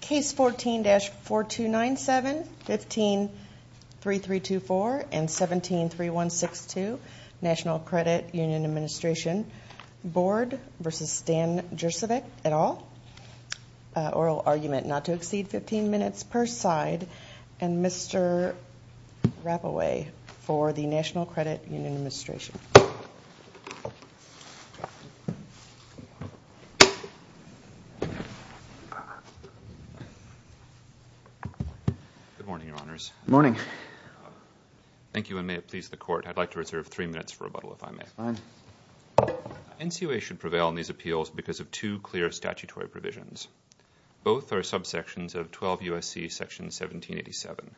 Case 14-4297, 15-3324 and 17-3162 National Credit Union Administration Bord v. Stan Jurcevic et al. Oral argument not to exceed 15 minutes per side. And Mr. Rapaway for the National Credit Union Administration. Good morning, Your Honors. Good morning. Thank you, and may it please the Court. I'd like to reserve three minutes for rebuttal, if I may. That's fine. NCOA should prevail in these appeals because of two clear statutory provisions. Both are subsections of 12 U.S.C. section 1787.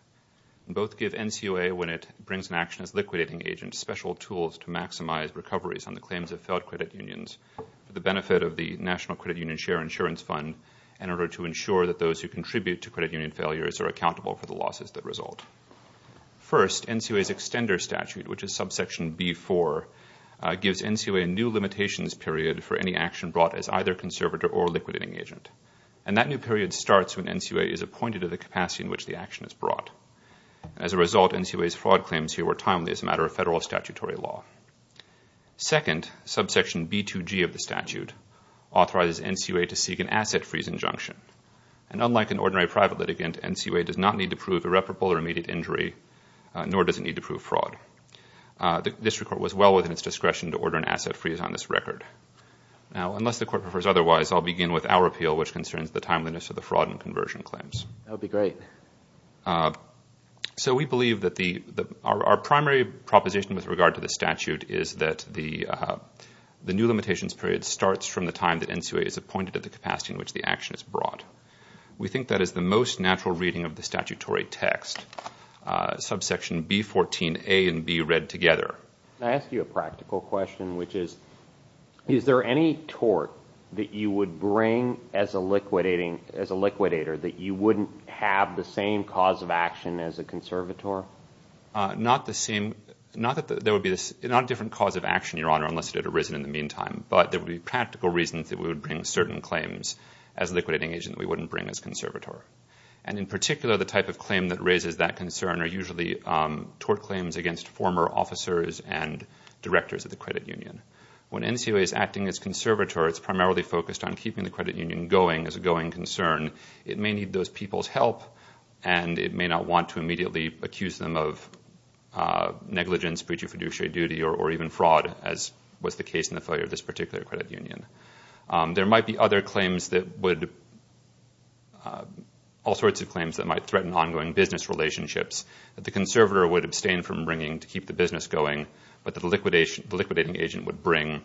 Both give NCOA, when it brings an action as liquidating agent, special tools to maximize recoveries on the claims of failed credit unions for the benefit of the National Credit Union Share Insurance Fund in order to ensure that those who contribute to credit union failures are accountable for the losses that result. First, NCOA's extender statute, which is subsection B-4, gives NCOA a new limitations period for any action brought as either conservator or liquidating agent. And that new period starts when NCOA is appointed to the capacity in which the action is brought. As a result, NCOA's fraud claims here were timely as a matter of federal statutory law. Second, subsection B-2G of the statute authorizes NCOA to seek an asset freeze injunction. And unlike an ordinary private litigant, NCOA does not need to prove irreparable or immediate injury, nor does it need to prove fraud. This record was well within its discretion to order an asset freeze on this record. Now, unless the court prefers otherwise, I'll begin with our appeal, which concerns the timeliness of the fraud and conversion claims. That would be great. So we believe that our primary proposition with regard to the statute is that the new limitations period starts from the time that NCOA is appointed at the capacity in which the action is brought. We think that is the most natural reading of the statutory text, subsection B-14A and B read together. Can I ask you a practical question, which is, is there any tort that you would bring as a liquidating, as a liquidator, that you wouldn't have the same cause of action as a conservator? Not that there would be a different cause of action, Your Honor, unless it had arisen in the meantime, but there would be practical reasons that we would bring certain claims as a liquidating agent that we wouldn't bring as conservator. And in particular, the type of claim that raises that concern are usually tort claims against former officers and directors of the credit union. When NCOA is acting as conservator, it's primarily focused on keeping the credit union going as a going concern. It may need those people's help, and it may not want to immediately accuse them of negligence, breach of fiduciary duty, or even fraud, as was the case in the failure of this particular credit union. There might be other claims that would, all sorts of claims that might threaten ongoing business relationships that the conservator would abstain from bringing to keep the business going, but the liquidating agent would bring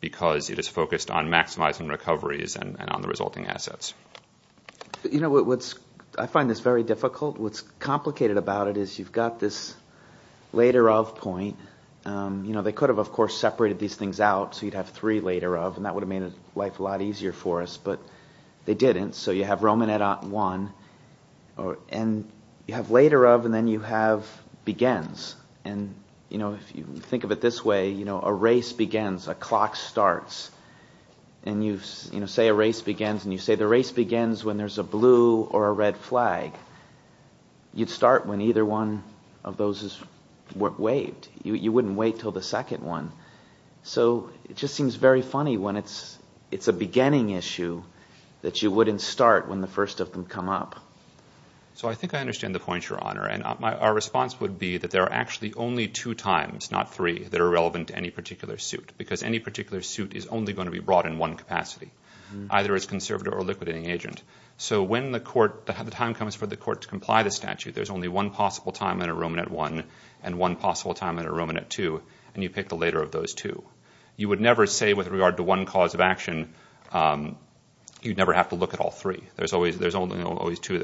because it is focused on maximizing recoveries and on the resulting assets. I find this very difficult. What's complicated about it is you've got this later of point. They could have, of course, separated these things out, so you'd have three later of, and that would have made life a lot easier for us, but they didn't. So you have Romanetat I, and you have later of, and then you have begins. If you think of it this way, a race begins, a clock starts, and you say a race begins, and you say the race begins when there's a blue or a red flag. You'd start when either one of those is waived. You wouldn't wait until the second one. It just seems very funny when it's a beginning issue that you wouldn't start when the first of them come up. I think I understand the point, Your Honor. Our response would be that there are actually only two times, not three, that are relevant to any particular suit because any particular suit is only going to be brought in one capacity, either as conservator or liquidating agent. So when the time comes for the court to comply with the statute, there's only one possible time in a Romanetat I and one possible time in a Romanetat II, and you pick the later of those two. You would never say with regard to one cause of action you'd never have to look at all three. There's only two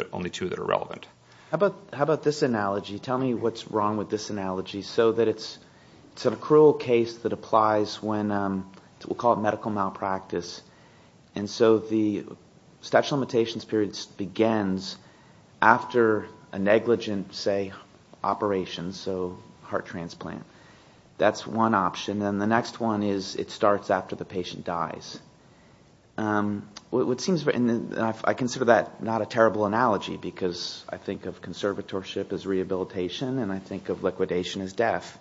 that are relevant. How about this analogy? Tell me what's wrong with this analogy so that it's a cruel case that applies when, we'll call it medical malpractice, and so the statute of limitations period begins after a negligent, say, operation, so heart transplant. That's one option. Then the next one is it starts after the patient dies. I consider that not a terrible analogy because I think of conservatorship as rehabilitation and I think of liquidation as death.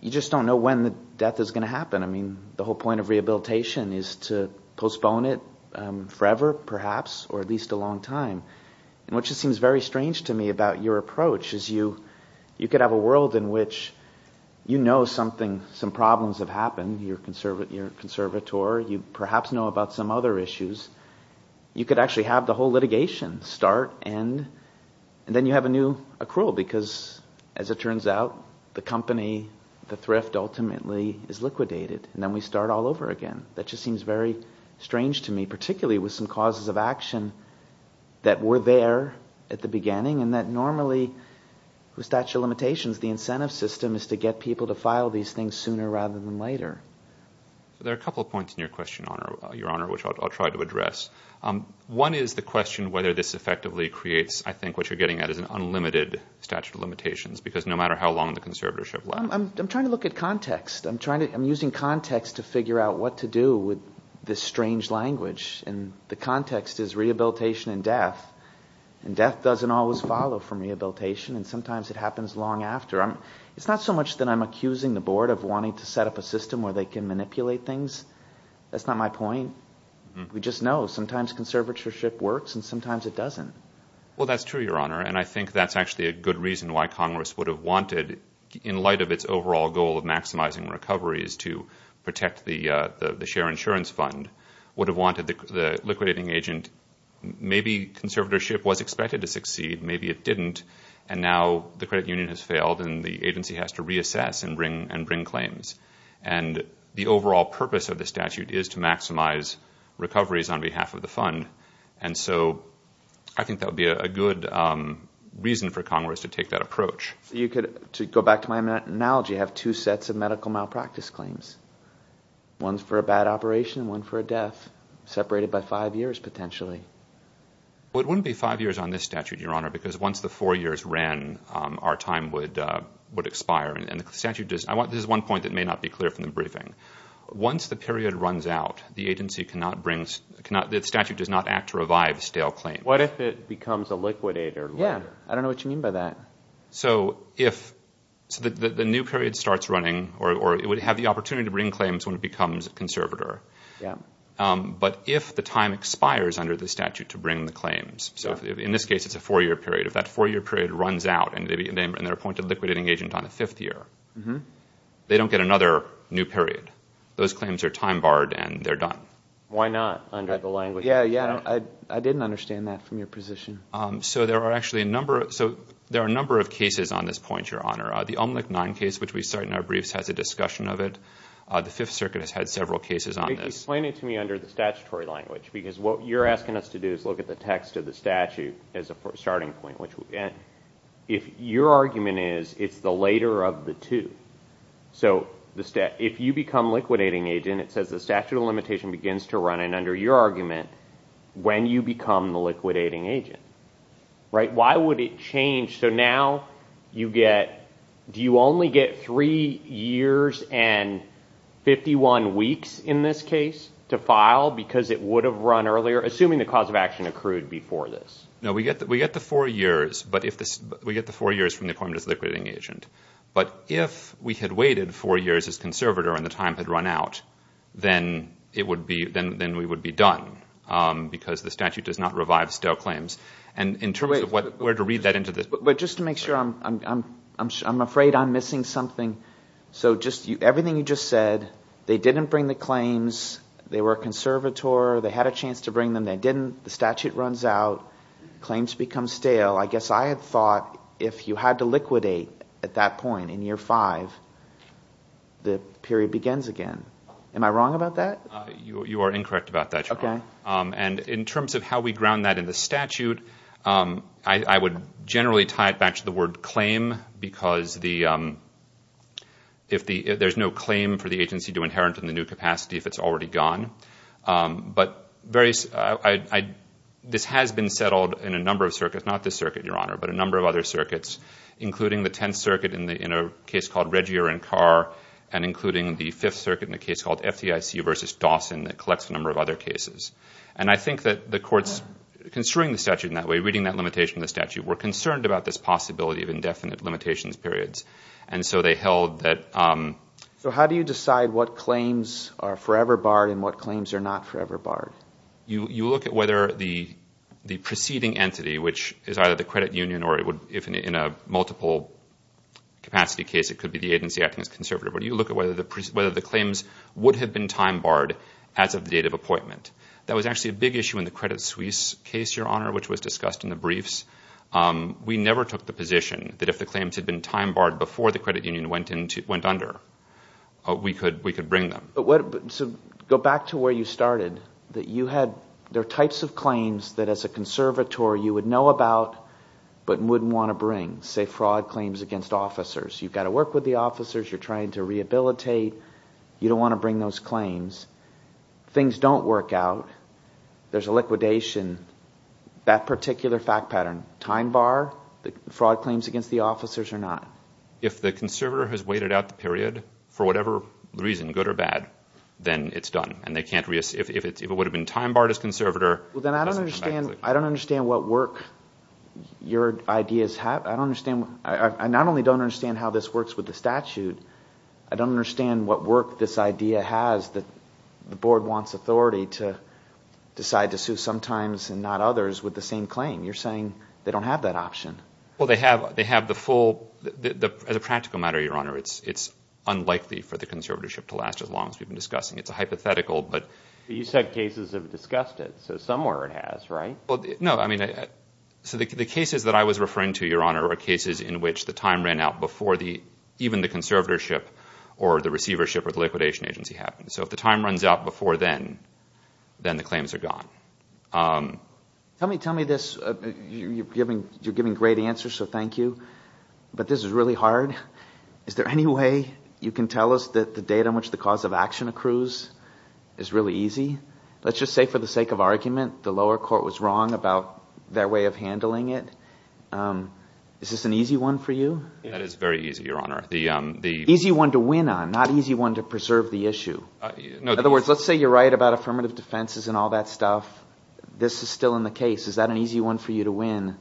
You just don't know when the death is going to happen. The whole point of rehabilitation is to postpone it forever, perhaps, or at least a long time. What just seems very strange to me about your approach is you could have a world in which you know some problems have happened, you're a conservator, you perhaps know about some other issues. You could actually have the whole litigation start and then you have a new accrual because, as it turns out, the company, the thrift, ultimately is liquidated and then we start all over again. That just seems very strange to me, particularly with some causes of action that were there at the beginning and that normally, with statute of limitations, the incentive system is to get people to file these things sooner rather than later. There are a couple of points in your question, Your Honor, which I'll try to address. One is the question whether this effectively creates, I think, what you're getting at is an unlimited statute of limitations because no matter how long the conservatorship lasts. I'm trying to look at context. I'm using context to figure out what to do with this strange language and the context is rehabilitation and death and death doesn't always follow from rehabilitation and sometimes it happens long after. It's not so much that I'm accusing the board of wanting to set up a system where they can manipulate things. That's not my point. We just know sometimes conservatorship works and sometimes it doesn't. Well, that's true, Your Honor, and I think that's actually a good reason why Congress would have wanted, in light of its overall goal of maximizing recoveries to protect the share insurance fund, would have wanted the liquidating agent. Maybe conservatorship was expected to succeed, maybe it didn't, and now the credit union has failed and the agency has to reassess and bring claims. And the overall purpose of the statute is to maximize recoveries on behalf of the fund, and so I think that would be a good reason for Congress to take that approach. You could, to go back to my analogy, have two sets of medical malpractice claims, one for a bad operation and one for a death, separated by five years, potentially. Well, it wouldn't be five years on this statute, Your Honor, because once the four years ran, our time would expire. This is one point that may not be clear from the briefing. Once the period runs out, the statute does not act to revive stale claims. What if it becomes a liquidator? Yeah, I don't know what you mean by that. So the new period starts running, or it would have the opportunity to bring claims when it becomes a conservator. But if the time expires under the statute to bring the claims, so in this case it's a four-year period. If that four-year period runs out and they're appointed liquidating agent on the fifth year, they don't get another new period. Those claims are time-barred and they're done. Why not under the language? Yeah, I didn't understand that from your position. So there are a number of cases on this point, Your Honor. The Omelick 9 case, which we cite in our briefs, has a discussion of it. The Fifth Circuit has had several cases on this. Explain it to me under the statutory language, because what you're asking us to do is look at the text of the statute as a starting point. Your argument is it's the later of the two. So if you become liquidating agent, it says the statute of limitation begins to run in under your argument when you become the liquidating agent. Why would it change? So now you get, do you only get three years and 51 weeks in this case? No, we get the four years, but we get the four years from the appointment as liquidating agent. But if we had waited four years as conservator and the time had run out, then we would be done, because the statute does not revive stale claims. And in terms of where to read that into this. But just to make sure, I'm afraid I'm missing something. So just everything you just said, they didn't bring the claims, they were a conservator, they had a chance to bring them, they didn't, the statute runs out, claims become stale. I guess I had thought if you had to liquidate at that point in year five, the period begins again. Am I wrong about that? You are incorrect about that. And in terms of how we ground that in the statute, I would generally tie it back to the word claim, because there's no claim for the agency to inherit in the new capacity if it's already gone. But this has been settled in a number of circuits, not this circuit, Your Honor, but a number of other circuits, including the Tenth Circuit in a case called Regier and Carr, and including the Fifth Circuit in a case called FDIC versus Dawson that collects a number of other cases. And I think that the courts, considering the statute in that way, reading that limitation in the statute, were concerned about this possibility of indefinite limitations periods. And so they held that... So how do you decide what claims are forever barred and what claims are not forever barred? You look at whether the preceding entity, which is either the credit union or if in a multiple capacity case it could be the agency acting as a conservator, but you look at whether the claims would have been time barred as of the date of appointment. That was actually a big issue in the Credit Suisse case, Your Honor, which was discussed in the briefs. We never took the position that if the claims had been time barred before the credit union went under, we could bring them. So go back to where you started. There are types of claims that as a conservator you would know about but wouldn't want to bring. Say fraud claims against officers. You've got to work with the officers. You're trying to rehabilitate. You don't want to bring those claims. Things don't work out. There's a liquidation. That particular fact pattern, time bar, fraud claims against the officers or not. If the conservator has waited out the period for whatever reason, good or bad, then it's done. If it would have been time barred as conservator, it doesn't come back. I don't understand what work your ideas have. I not only don't understand how this works with the statute, I don't understand what work this idea has that the board wants authority to decide to sue sometimes and not others with the same claim. You're saying they don't have that option. As a practical matter, Your Honor, it's unlikely for the conservatorship to last as long as we've been discussing. It's a hypothetical. You said cases have discussed it, so somewhere it has, right? The cases that I was referring to, Your Honor, are cases in which the time ran out before even the conservatorship or the receivership or the liquidation agency happened. If the time runs out before then, then the claims are gone. Tell me this. You're giving great answers, so thank you, but this is really hard. Is there any way you can tell us that the date on which the cause of action accrues is really easy? Let's just say, for the sake of argument, the lower court was wrong about their way of handling it. Is this an easy one for you? That is very easy, Your Honor. Easy one to win on, not easy one to preserve the issue. In other words, let's say you're right about affirmative defenses and all that stuff. This is still in the case. Is that an easy one for you to win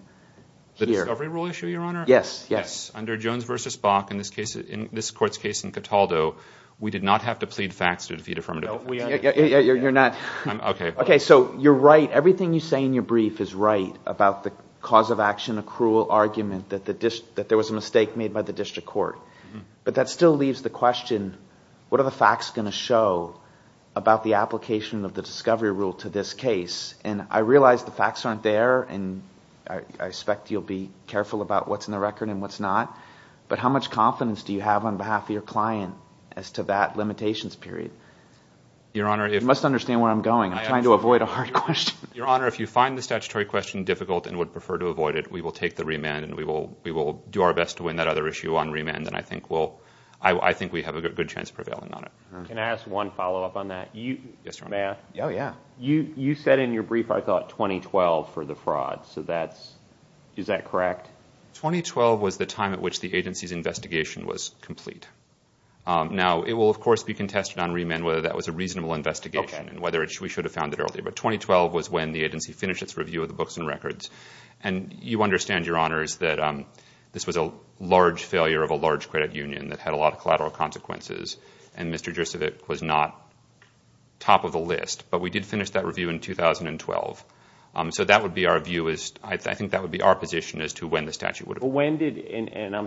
here? The discovery rule issue, Your Honor? Yes, yes. Under Jones v. Bach, in this court's case in Cataldo, we did not have to plead facts to defeat affirmative defense. Okay, so you're right. Everything you say in your brief is right about the cause of action accrual argument that there was a mistake made by the district court. But that still leaves the question, what are the facts going to show about the application of the discovery rule to this case? And I realize the facts aren't there, and I expect you'll be careful about what's in the record and what's not. But how much confidence do you have on behalf of your client as to that limitations period? You must understand where I'm going. I'm trying to avoid a hard question. Your Honor, if you find the statutory question difficult and would prefer to avoid it, we will take the remand and we will do our best to win that other issue on remand, and I think we have a good chance of prevailing on it. Can I ask one follow-up on that? Yes, Your Honor. You said in your brief, I thought, 2012 for the fraud. Is that correct? 2012 was the time at which the agency's investigation was complete. Now, it will, of course, be contested on remand whether that was a reasonable investigation and whether we should have found it earlier. But 2012 was when the agency finished its review of the books and records. And you understand, Your Honors, that this was a large failure of a large credit union that had a lot of collateral consequences, and Mr. Dricevic was not top of the list. But we did finish that review in 2012. So that would be our view, I think that would be our position as to when the statute would have been completed.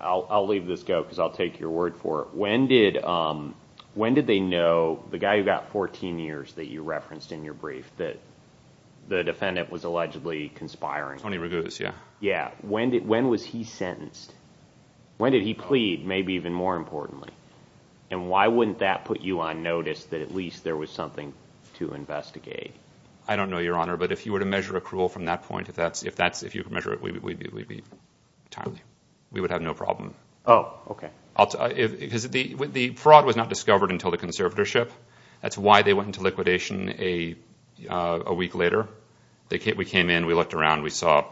I'll leave this go because I'll take your word for it. When did they know, the guy who got 14 years that you referenced in your brief, that the defendant was allegedly conspiring? Tony Raguse, yes. When was he sentenced? When did he plead, maybe even more importantly? And why wouldn't that put you on notice that at least there was something to investigate? I don't know, Your Honor, but if you were to measure accrual from that point, if you could measure it, we'd be timely. We would have no problem. The fraud was not discovered until the conservatorship. That's why they went into liquidation a week later. We came in, we looked around, we saw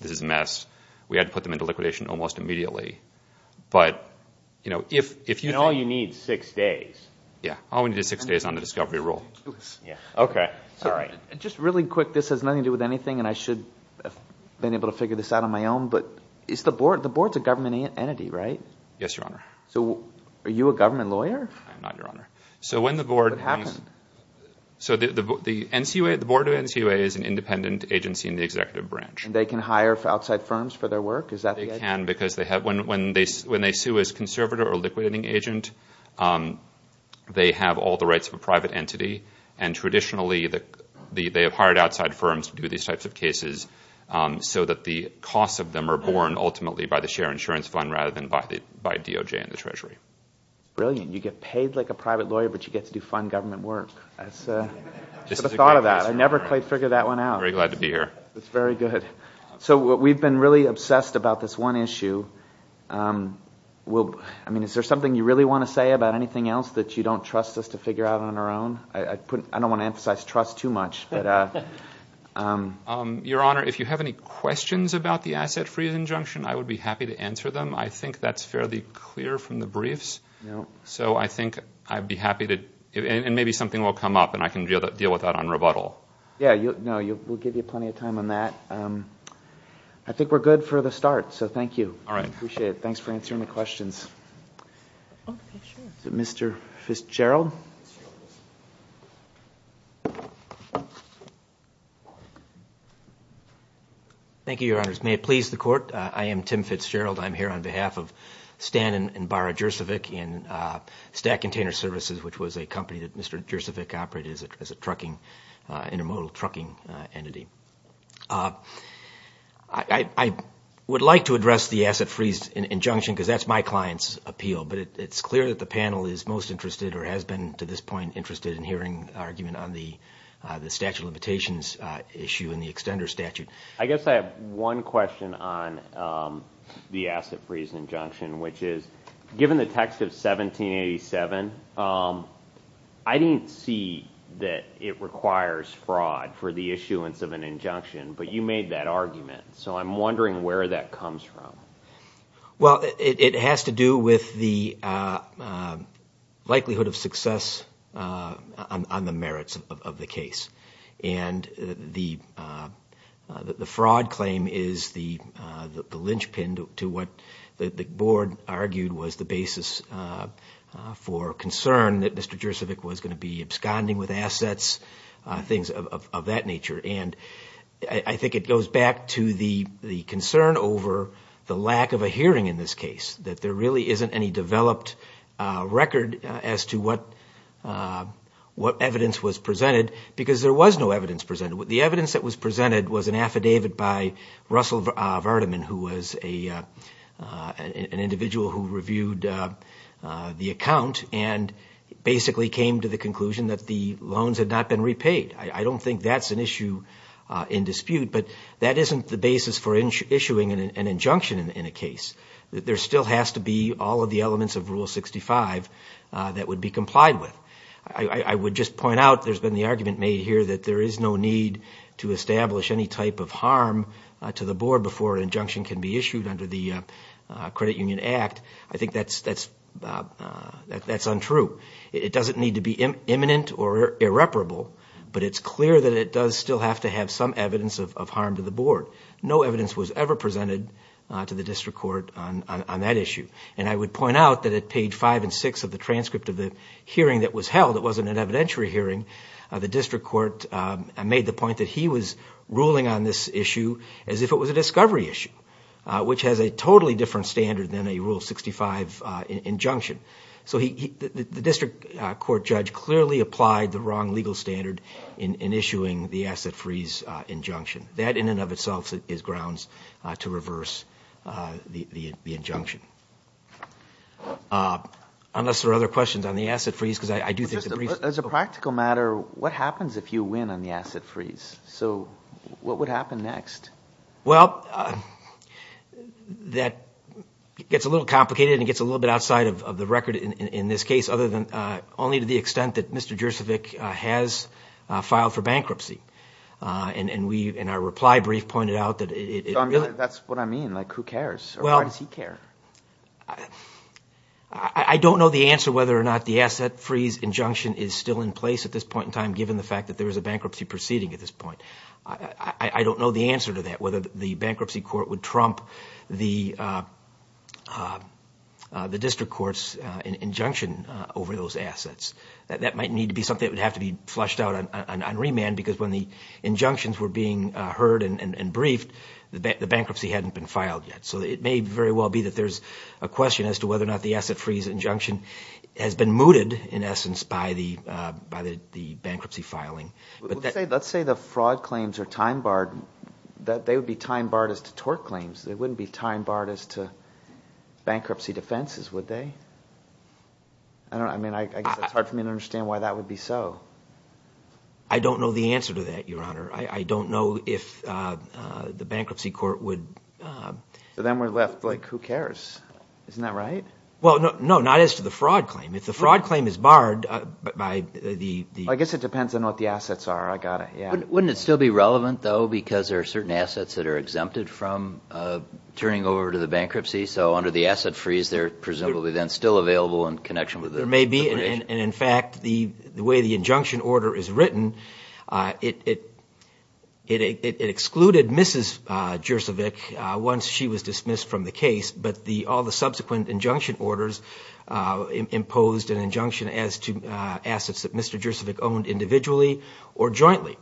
this is a mess. We had to put them into liquidation almost immediately. And all you need is six days. Yeah, all we need is six days on the discovery rule. Just really quick, this has nothing to do with anything, and I should have been able to figure this out on my own, but the board is a government entity, right? Yes, Your Honor. Are you a government lawyer? I'm not, Your Honor. What happened? The board of NCUA is an independent agency in the executive branch. And they can hire outside firms for their work? They can because when they sue as conservator or liquidating agent, they have all the rights of a private entity, and traditionally they have hired outside firms to do these types of cases so that the costs of them are borne ultimately by the share insurance fund rather than by DOJ and the Treasury. Brilliant. You get paid like a private lawyer, but you get to do fun government work. I should have thought of that. I never quite figured that one out. Very glad to be here. That's very good. So we've been really obsessed about this one issue. I mean, is there something you really want to say about anything else that you don't trust us to figure out on our own? I don't want to emphasize trust too much. Your Honor, if you have any questions about the asset freeze injunction, I would be happy to answer them. I think that's fairly clear from the briefs. So I think I'd be happy to, and maybe something will come up, and I can deal with that on rebuttal. Yeah, no, we'll give you plenty of time on that. I think we're good for the start, so thank you. All right, appreciate it. Thanks for answering the questions. Mr. Fitzgerald? Thank you, Your Honors. May it please the Court, I am Tim Fitzgerald. I'm here on behalf of Stan and Bara Jurcevic in Stack Container Services, which was a company that Mr. Jurcevic operated as an intermodal trucking entity. I would like to address the asset freeze injunction, because that's my client's appeal, but it's clear that the panel is most interested or has been to this point interested in hearing an argument on the statute of limitations issue and the extender statute. I guess I have one question on the asset freeze injunction, which is given the text of 1787, I didn't see that it requires fraud for the issuance of an injunction, but you made that argument, so I'm wondering where that comes from. Well, it has to do with the likelihood of success on the merits of the case, and the fraud claim is the linchpin to what the Board argued was the basis for concern that Mr. Jurcevic was going to be absconding with assets, things of that nature, and I think it goes back to the concern over the lack of a hearing in this case, that there really isn't any developed record as to what evidence was presented, because there was no evidence presented. The evidence that was presented was an affidavit by Russell Vardaman, who was an individual who reviewed the account and basically came to the conclusion that the loans had not been repaid. I don't think that's an issue in dispute, but that isn't the basis for issuing an injunction in a case. There still has to be all of the elements of Rule 65 that would be complied with. I would just point out there's been the argument made here that there is no need to establish any type of harm to the Board before an injunction can be issued under the Credit Union Act. I think that's untrue. It doesn't need to be imminent or irreparable, but it's clear that it does still have to have some evidence of harm to the Board. No evidence was ever presented to the District Court on that issue, and I would point out that at page 5 and 6 of the transcript of the hearing that was held, it wasn't an evidentiary hearing, the District Court made the point that he was ruling on this issue as if it was a discovery issue, which has a totally different standard than a Rule 65 injunction. The District Court judge clearly applied the wrong legal standard in issuing the asset freeze injunction. That, in and of itself, is grounds to reverse the injunction. Unless there are other questions on the asset freeze, because I do think the brief... As a practical matter, what happens if you win on the asset freeze? So what would happen next? Well, that gets a little complicated, and it gets a little bit outside of the record in this case, only to the extent that Mr. Jurcevic has filed for bankruptcy. And our reply brief pointed out that it... So that's what I mean, like who cares, or why does he care? I don't know the answer whether or not the asset freeze injunction is still in place at this point in time, given the fact that there is a bankruptcy proceeding at this point. I don't know the answer to that, whether the Bankruptcy Court would trump the District Court's injunction over those assets. That might need to be something that would have to be flushed out on remand, because when the injunctions were being heard and briefed, the bankruptcy hadn't been filed yet. So it may very well be that there's a question as to whether or not the asset freeze injunction has been mooted, in essence, by the bankruptcy filing. Let's say the fraud claims are time-barred. They would be time-barred as to tort claims. They wouldn't be time-barred as to bankruptcy defenses, would they? I guess it's hard for me to understand why that would be so. I don't know the answer to that, Your Honor. I don't know if the Bankruptcy Court would... So then we're left like, who cares? Isn't that right? Well, no, not as to the fraud claim. If the fraud claim is barred by the... I guess it depends on what the assets are. I got it, yeah. Wouldn't it still be relevant, though, because there are certain assets that are exempted from turning over to the bankruptcy? So under the asset freeze, they're presumably then still available in connection with... There may be, and in fact, the way the injunction order is written, it excluded Mrs. Jurcevic once she was dismissed from the case, but all the subsequent injunction orders imposed an injunction as to assets that Mr. Jurcevic owned individually or jointly.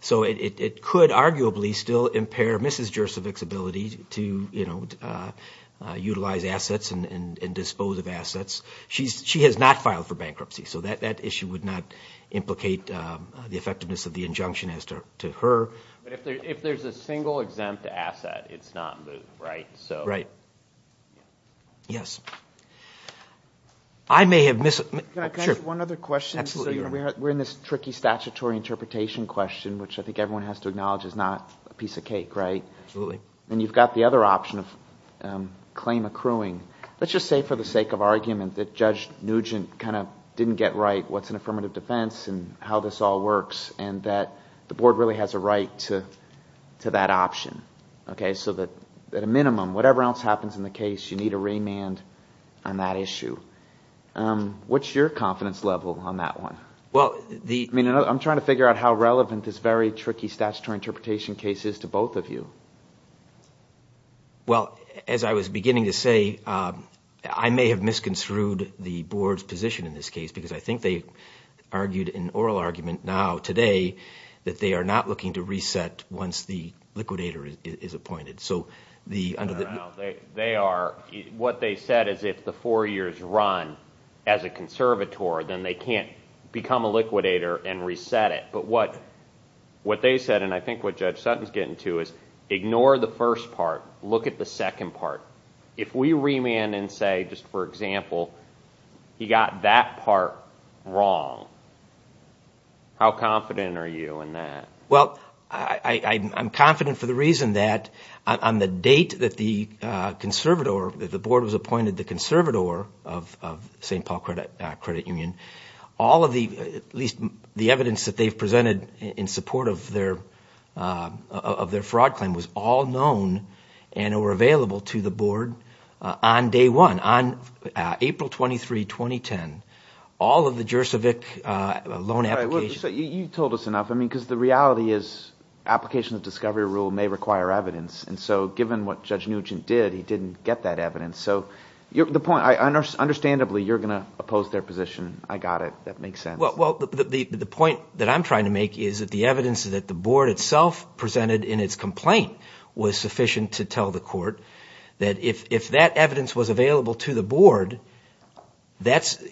So it could arguably still impair Mrs. Jurcevic's ability to, you know, utilize assets and dispose of assets. She has not filed for bankruptcy, so that issue would not implicate the effectiveness of the injunction as to her. But if there's a single exempt asset, it's not moved, right? Right. Yes. I may have missed... Can I ask one other question? Absolutely. We're in this tricky statutory interpretation question, which I think everyone has to acknowledge is not a piece of cake, right? Absolutely. And you've got the other option of claim accruing. Let's just say for the sake of argument that Judge Nugent kind of didn't get right what's an affirmative defense and how this all works, and that the board really has a right to that option. Okay? So that at a minimum, whatever else happens in the case, you need a remand on that issue. What's your confidence level on that one? Well, the... I mean, I'm trying to figure out how relevant this very tricky statutory interpretation case is to both of you. Well, as I was beginning to say, I may have misconstrued the board's position in this case because I think they argued an oral argument now today that they are not looking to reset once the liquidator is appointed. So the... They are. What they said is if the four years run as a conservator, then they can't become a liquidator and reset it. But what they said, and I think what Judge Sutton's getting to, is ignore the first part. Look at the second part. If we remand and say, just for example, he got that part wrong, how confident are you in that? Well, I'm confident for the reason that on the date that the conservator, the board was appointed the conservator of St. Paul Credit Union, all of the, at least the evidence that they've presented in support of their fraud claim was all known and were available to the board on day one, on April 23, 2010. All of the Juris Evic loan applications... You've told us enough. I mean, because the reality is applications of discovery rule may require evidence. And so given what Judge Nugent did, he didn't get that evidence. Understandably, you're going to oppose their position. I got it. That makes sense. Well, the point that I'm trying to make is that the evidence that the board itself presented in its complaint was sufficient to tell the court that if that evidence was available to the board, that's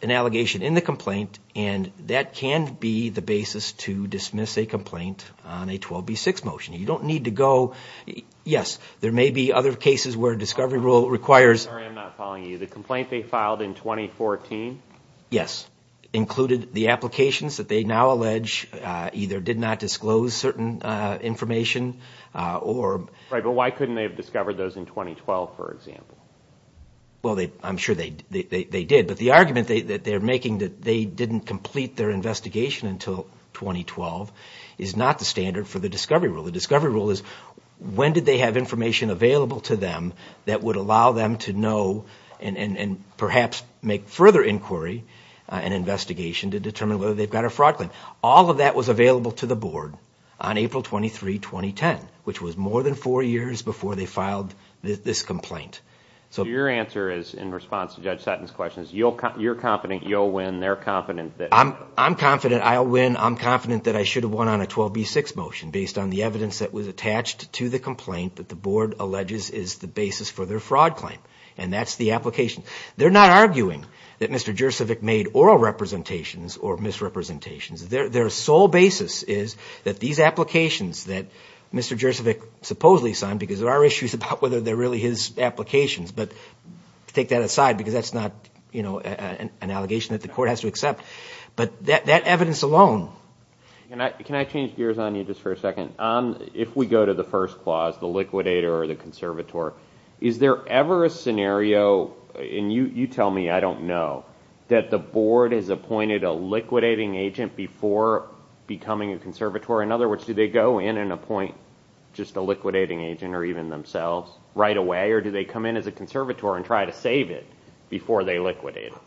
an allegation in the complaint and that can be the basis to dismiss a complaint on a 12B6 motion. You don't need to go... Yes, there may be other cases where discovery rule requires... Sorry, I'm not following you. The complaint they filed in 2014? Yes. Included the applications that they now allege either did not disclose certain information or... Right, but why couldn't they have discovered those in 2012, for example? Well, I'm sure they did, but the argument that they're making that they didn't complete their investigation until 2012 is not the standard for the discovery rule. The discovery rule is when did they have information available to them that would allow them to know and perhaps make further inquiry and investigation to determine whether they've got a fraud claim. All of that was available to the board on April 23, 2010, which was more than four years before they filed this complaint. So your answer is, in response to Judge Sutton's question, you're confident you'll win, they're confident that... I'm confident I'll win, I'm confident that I should have won on a 12B6 motion based on the evidence that was attached to the complaint that the board alleges is the basis for their fraud claim, and that's the application. They're not arguing that Mr. Jurcevic made oral representations or misrepresentations. Their sole basis is that these applications that Mr. Jurcevic supposedly signed, because there are issues about whether they're really his applications, but take that aside because that's not an allegation that the court has to accept. But that evidence alone... Can I change gears on you just for a second? If we go to the first clause, the liquidator or the conservator, is there ever a scenario, and you tell me, I don't know, that the board has appointed a liquidating agent before becoming a conservator? In other words, do they go in and appoint just a liquidating agent or even themselves right away, or do they come in as a conservator and try to save it before they liquidate them?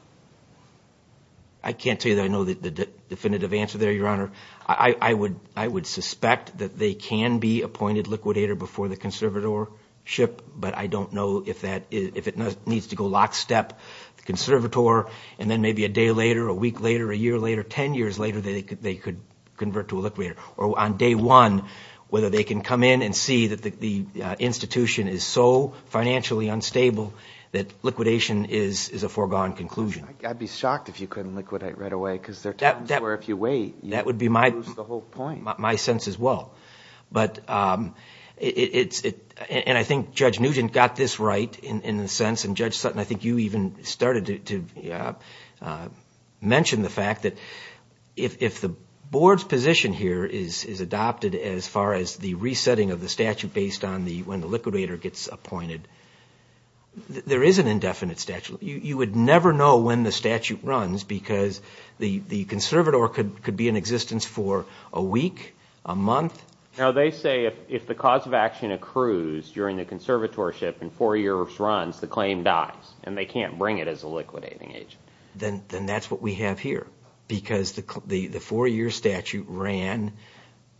I can't tell you that I know the definitive answer there, Your Honor. I would suspect that they can be appointed liquidator before the conservatorship, but I don't know if it needs to go lockstep, the conservator, and then maybe a day later, a week later, a year later, ten years later, they could convert to a liquidator. Or on day one, whether they can come in and see that the institution is so financially unstable that liquidation is a foregone conclusion. I'd be shocked if you couldn't liquidate right away because there are times where if you wait, you lose the whole point. That would be my sense as well. And I think Judge Nugent got this right in a sense, and Judge Sutton, I think you even started to mention the fact that if the board's position here is adopted as far as the resetting of the statute based on when the liquidator gets appointed, there is an indefinite statute. You would never know when the statute runs because the conservator could be in existence for a week, a month. Now they say if the cause of action accrues during the conservatorship and four years runs, the claim dies and they can't bring it as a liquidating agent. Then that's what we have here because the four-year statute ran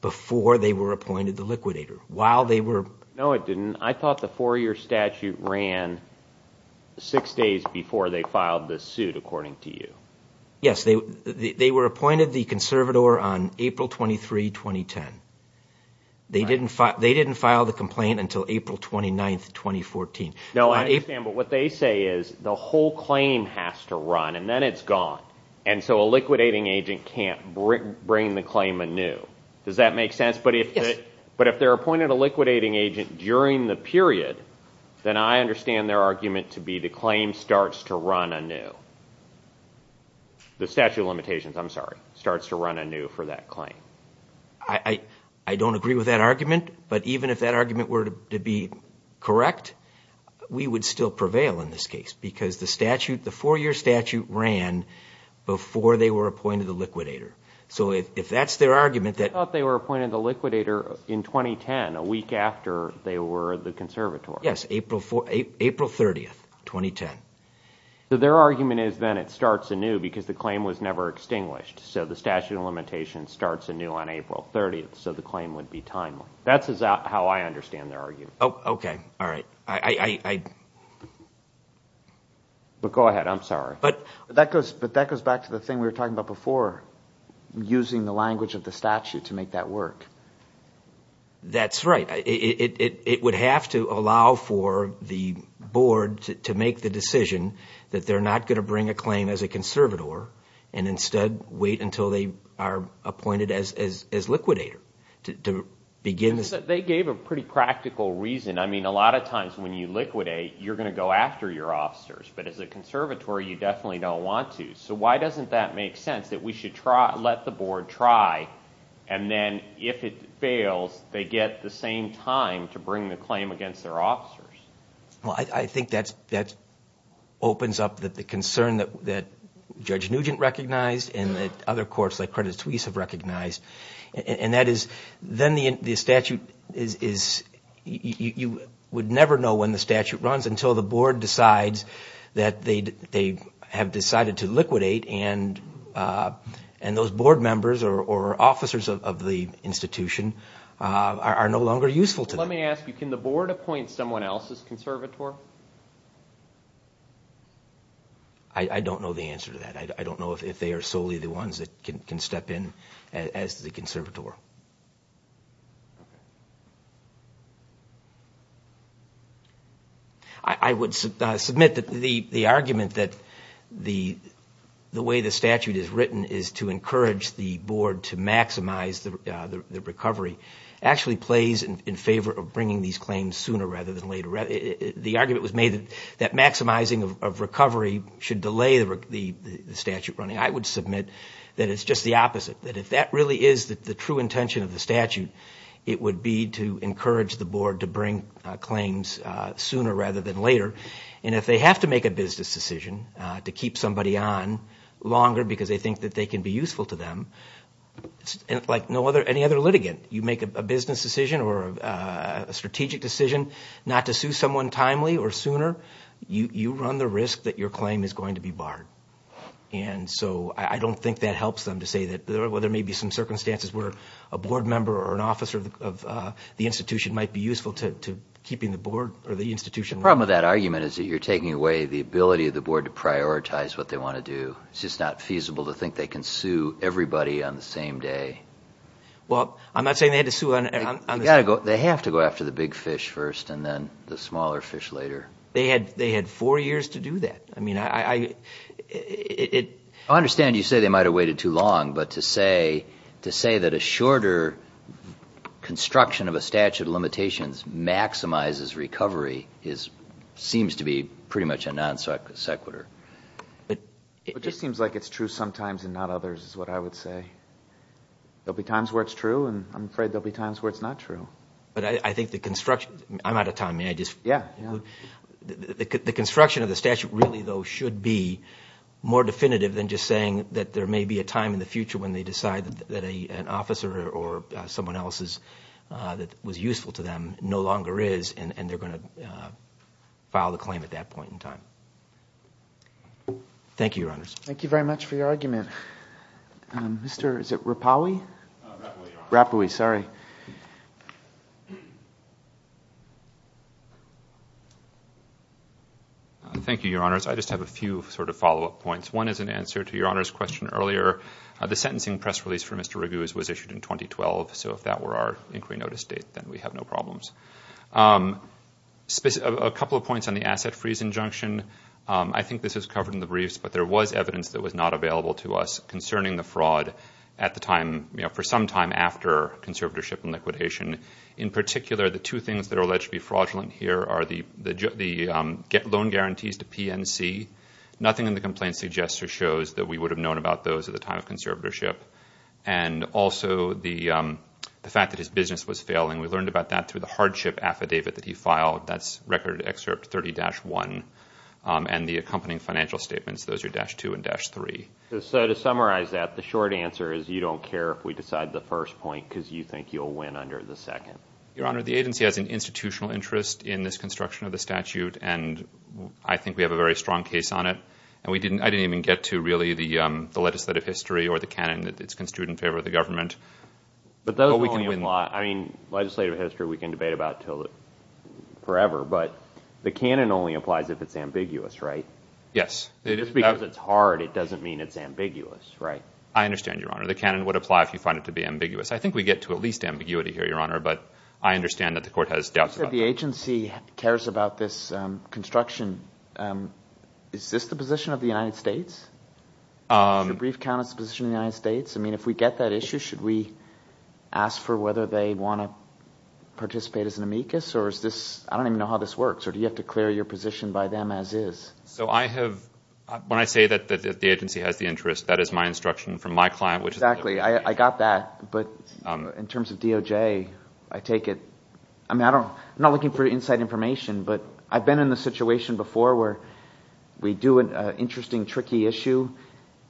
before they were appointed the liquidator. No, it didn't. I thought the four-year statute ran six days before they filed the suit, according to you. Yes, they were appointed the conservator on April 23, 2010. They didn't file the complaint until April 29, 2014. No, I understand, but what they say is the whole claim has to run and then it's gone. And so a liquidating agent can't bring the claim anew. Does that make sense? Yes. But if they're appointed a liquidating agent during the period, then I understand their argument to be the claim starts to run anew. The statute of limitations, I'm sorry, starts to run anew for that claim. I don't agree with that argument, but even if that argument were to be correct, we would still prevail in this case because the statute, the four-year statute ran before they were appointed the liquidator. So if that's their argument that I thought they were appointed the liquidator in 2010, a week after they were the conservator. Yes, April 30, 2010. So their argument is then it starts anew because the claim was never extinguished. So the statute of limitations starts anew on April 30, so the claim would be timely. That's how I understand their argument. Oh, okay. All right. I – But go ahead. I'm sorry. But that goes back to the thing we were talking about before, using the language of the statute to make that work. That's right. It would have to allow for the board to make the decision that they're not going to bring a claim as a conservator and instead wait until they are appointed as liquidator to begin – They gave a pretty practical reason. I mean, a lot of times when you liquidate, you're going to go after your officers. But as a conservatory, you definitely don't want to. So why doesn't that make sense that we should let the board try, and then if it fails, they get the same time to bring the claim against their officers? Well, I think that opens up the concern that Judge Nugent recognized and that other courts like Credit Suisse have recognized. And that is then the statute is – you would never know when the statute runs until the board decides that they have decided to liquidate and those board members or officers of the institution are no longer useful to them. Let me ask you, can the board appoint someone else as conservator? I don't know the answer to that. I don't know if they are solely the ones that can step in as the conservator. I would submit that the argument that the way the statute is written is to encourage the board to maximize the recovery actually plays in favor of bringing these claims sooner rather than later. The argument was made that maximizing of recovery should delay the statute running. I would submit that it's just the opposite, that if that really is the true intention of the statute, it would be to encourage the board to bring claims sooner rather than later. And if they have to make a business decision to keep somebody on longer because they think that they can be useful to them, like any other litigant, you make a business decision or a strategic decision not to sue someone timely or sooner, you run the risk that your claim is going to be barred. And so I don't think that helps them to say that there may be some circumstances where a board member or an officer of the institution might be useful to keeping the institution. The problem with that argument is that you're taking away the ability of the board to prioritize what they want to do. It's just not feasible to think they can sue everybody on the same day. Well, I'm not saying they had to sue on the same day. They have to go after the big fish first and then the smaller fish later. They had four years to do that. I mean, I understand you say they might have waited too long, but to say that a shorter construction of a statute of limitations maximizes recovery seems to be pretty much a non sequitur. It just seems like it's true sometimes and not others is what I would say. There will be times where it's true, and I'm afraid there will be times where it's not true. But I think the construction of the statute really, though, should be more definitive than just saying that there may be a time in the future when they decide that an officer or someone else that was useful to them no longer is, and they're going to file the claim at that point in time. Thank you, Your Honors. Thank you very much for your argument. Is it Rapawi? Rapawi, Your Honors. Rapawi, sorry. Thank you, Your Honors. I just have a few sort of follow-up points. One is an answer to Your Honor's question earlier. The sentencing press release for Mr. Raguse was issued in 2012, so if that were our inquiry notice date, then we have no problems. A couple of points on the asset freeze injunction. I think this was covered in the briefs, but there was evidence that was not available to us concerning the fraud at the time, for some time after conservatorship and liquidation. In particular, the two things that are alleged to be fraudulent here are the loan guarantees to PNC. Nothing in the complaint suggests or shows that we would have known about those at the time of conservatorship. And also the fact that his business was failing. We learned about that through the hardship affidavit that he filed. That's Record Excerpt 30-1 and the accompanying financial statements. Those are dash 2 and dash 3. So to summarize that, the short answer is you don't care if we decide the first point because you think you'll win under the second. Your Honor, the agency has an institutional interest in this construction of the statute, and I think we have a very strong case on it. I didn't even get to really the legislative history or the canon that it's construed in favor of the government. But those only apply. I mean, legislative history we can debate about forever, but the canon only applies if it's ambiguous, right? Yes. Just because it's hard, it doesn't mean it's ambiguous, right? I understand, Your Honor. The canon would apply if you find it to be ambiguous. I think we get to at least ambiguity here, Your Honor, but I understand that the Court has doubts about that. If the agency cares about this construction, is this the position of the United States? Should the brief count as the position of the United States? I mean, if we get that issue, should we ask for whether they want to participate as an amicus? Or is this – I don't even know how this works. Or do you have to clear your position by them as is? So I have – when I say that the agency has the interest, that is my instruction from my client, which is – Exactly. I got that, but in terms of DOJ, I take it – I mean, I don't – I'm not looking for inside information, but I've been in the situation before where we do an interesting, tricky issue,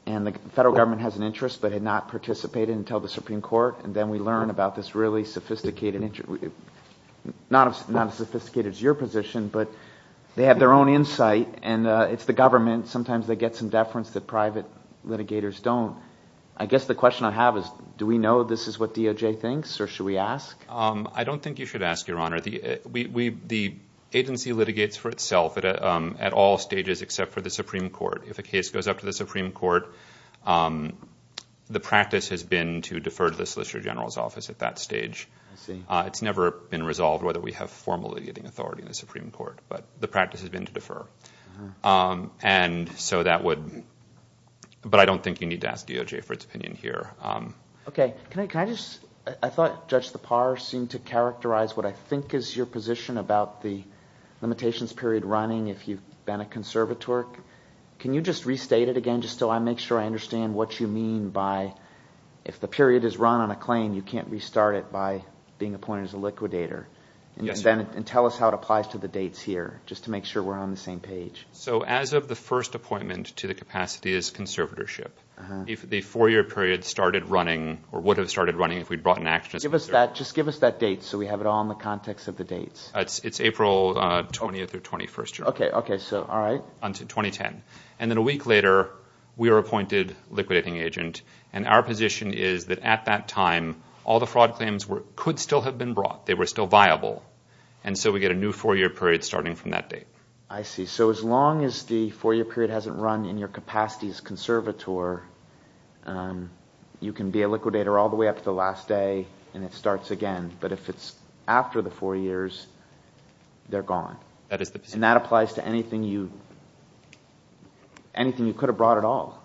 and the federal government has an interest but had not participated until the Supreme Court, and then we learn about this really sophisticated – not as sophisticated as your position, but they have their own insight, and it's the government. Sometimes they get some deference that private litigators don't. I guess the question I have is do we know this is what DOJ thinks, or should we ask? I don't think you should ask, Your Honor. The agency litigates for itself at all stages except for the Supreme Court. If a case goes up to the Supreme Court, the practice has been to defer to the Solicitor General's office at that stage. I see. It's never been resolved whether we have formal litigating authority in the Supreme Court, but the practice has been to defer. And so that would – but I don't think you need to ask DOJ for its opinion here. Okay. Can I just – I thought Judge Tappar seemed to characterize what I think is your position about the limitations period running if you've been a conservator. Can you just restate it again just so I make sure I understand what you mean by if the period is run on a claim, you can't restart it by being appointed as a liquidator? Yes, Your Honor. And tell us how it applies to the dates here, just to make sure we're on the same page. So as of the first appointment to the capacity is conservatorship. If the four-year period started running or would have started running if we'd brought an action as a conservator. Just give us that date so we have it all in the context of the dates. It's April 20th through 21st, Your Honor. Okay. All right. Until 2010. And then a week later, we are appointed liquidating agent, and our position is that at that time all the fraud claims could still have been brought. They were still viable. And so we get a new four-year period starting from that date. I see. So as long as the four-year period hasn't run in your capacity as conservator, you can be a liquidator all the way up to the last day and it starts again. But if it's after the four years, they're gone. And that applies to anything you could have brought at all.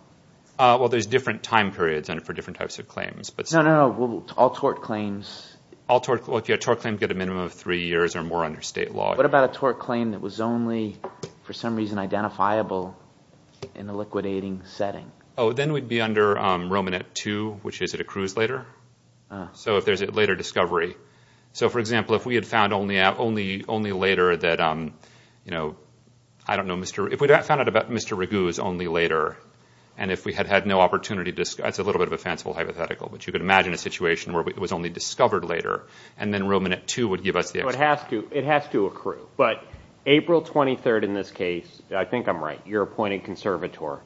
Well, there's different time periods for different types of claims. No, no, no. All tort claims. All tort claims get a minimum of three years or more under state law. What about a tort claim that was only, for some reason, identifiable in a liquidating setting? Oh, then we'd be under Romanet II, which is it accrues later. So if there's a later discovery. So, for example, if we had found only later that, you know, I don't know, Mr. If we found out about Mr. Raguse only later and if we had had no opportunity to, that's a little bit of a fanciful hypothetical, but you could imagine a situation where it was only discovered later and then Romanet II would give us the. So it has to. It has to accrue. But April 23rd in this case, I think I'm right. You're appointed conservator.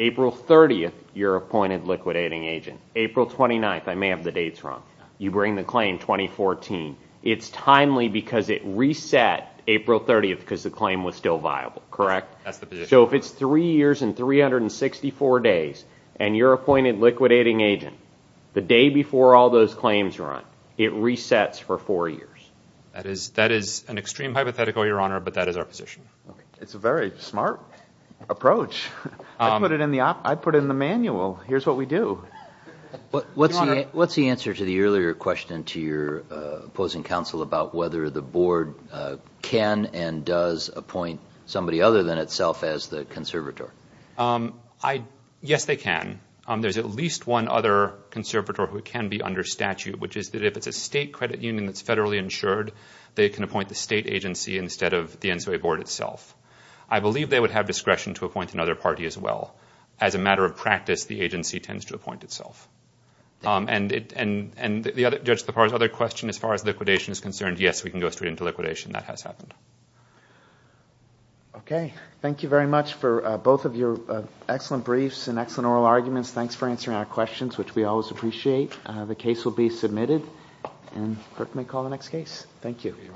April 30th, you're appointed liquidating agent. April 29th, I may have the dates wrong. You bring the claim 2014. It's timely because it reset April 30th because the claim was still viable, correct? That's the position. So if it's three years and 364 days and you're appointed liquidating agent, the day before all those claims run, it resets for four years. That is an extreme hypothetical, Your Honor, but that is our position. It's a very smart approach. I put it in the manual. Here's what we do. What's the answer to the earlier question to your opposing counsel about whether the board can and does appoint somebody other than itself as the conservator? Yes, they can. There's at least one other conservator who can be under statute, which is that if it's a state credit union that's federally insured, they can appoint the state agency instead of the NCOA board itself. I believe they would have discretion to appoint another party as well. As a matter of practice, the agency tends to appoint itself. And the other question as far as liquidation is concerned, yes, we can go straight into liquidation. That has happened. Okay. Thank you very much for both of your excellent briefs and excellent oral arguments. Thanks for answering our questions, which we always appreciate. The case will be submitted, and the clerk may call the next case. Thank you.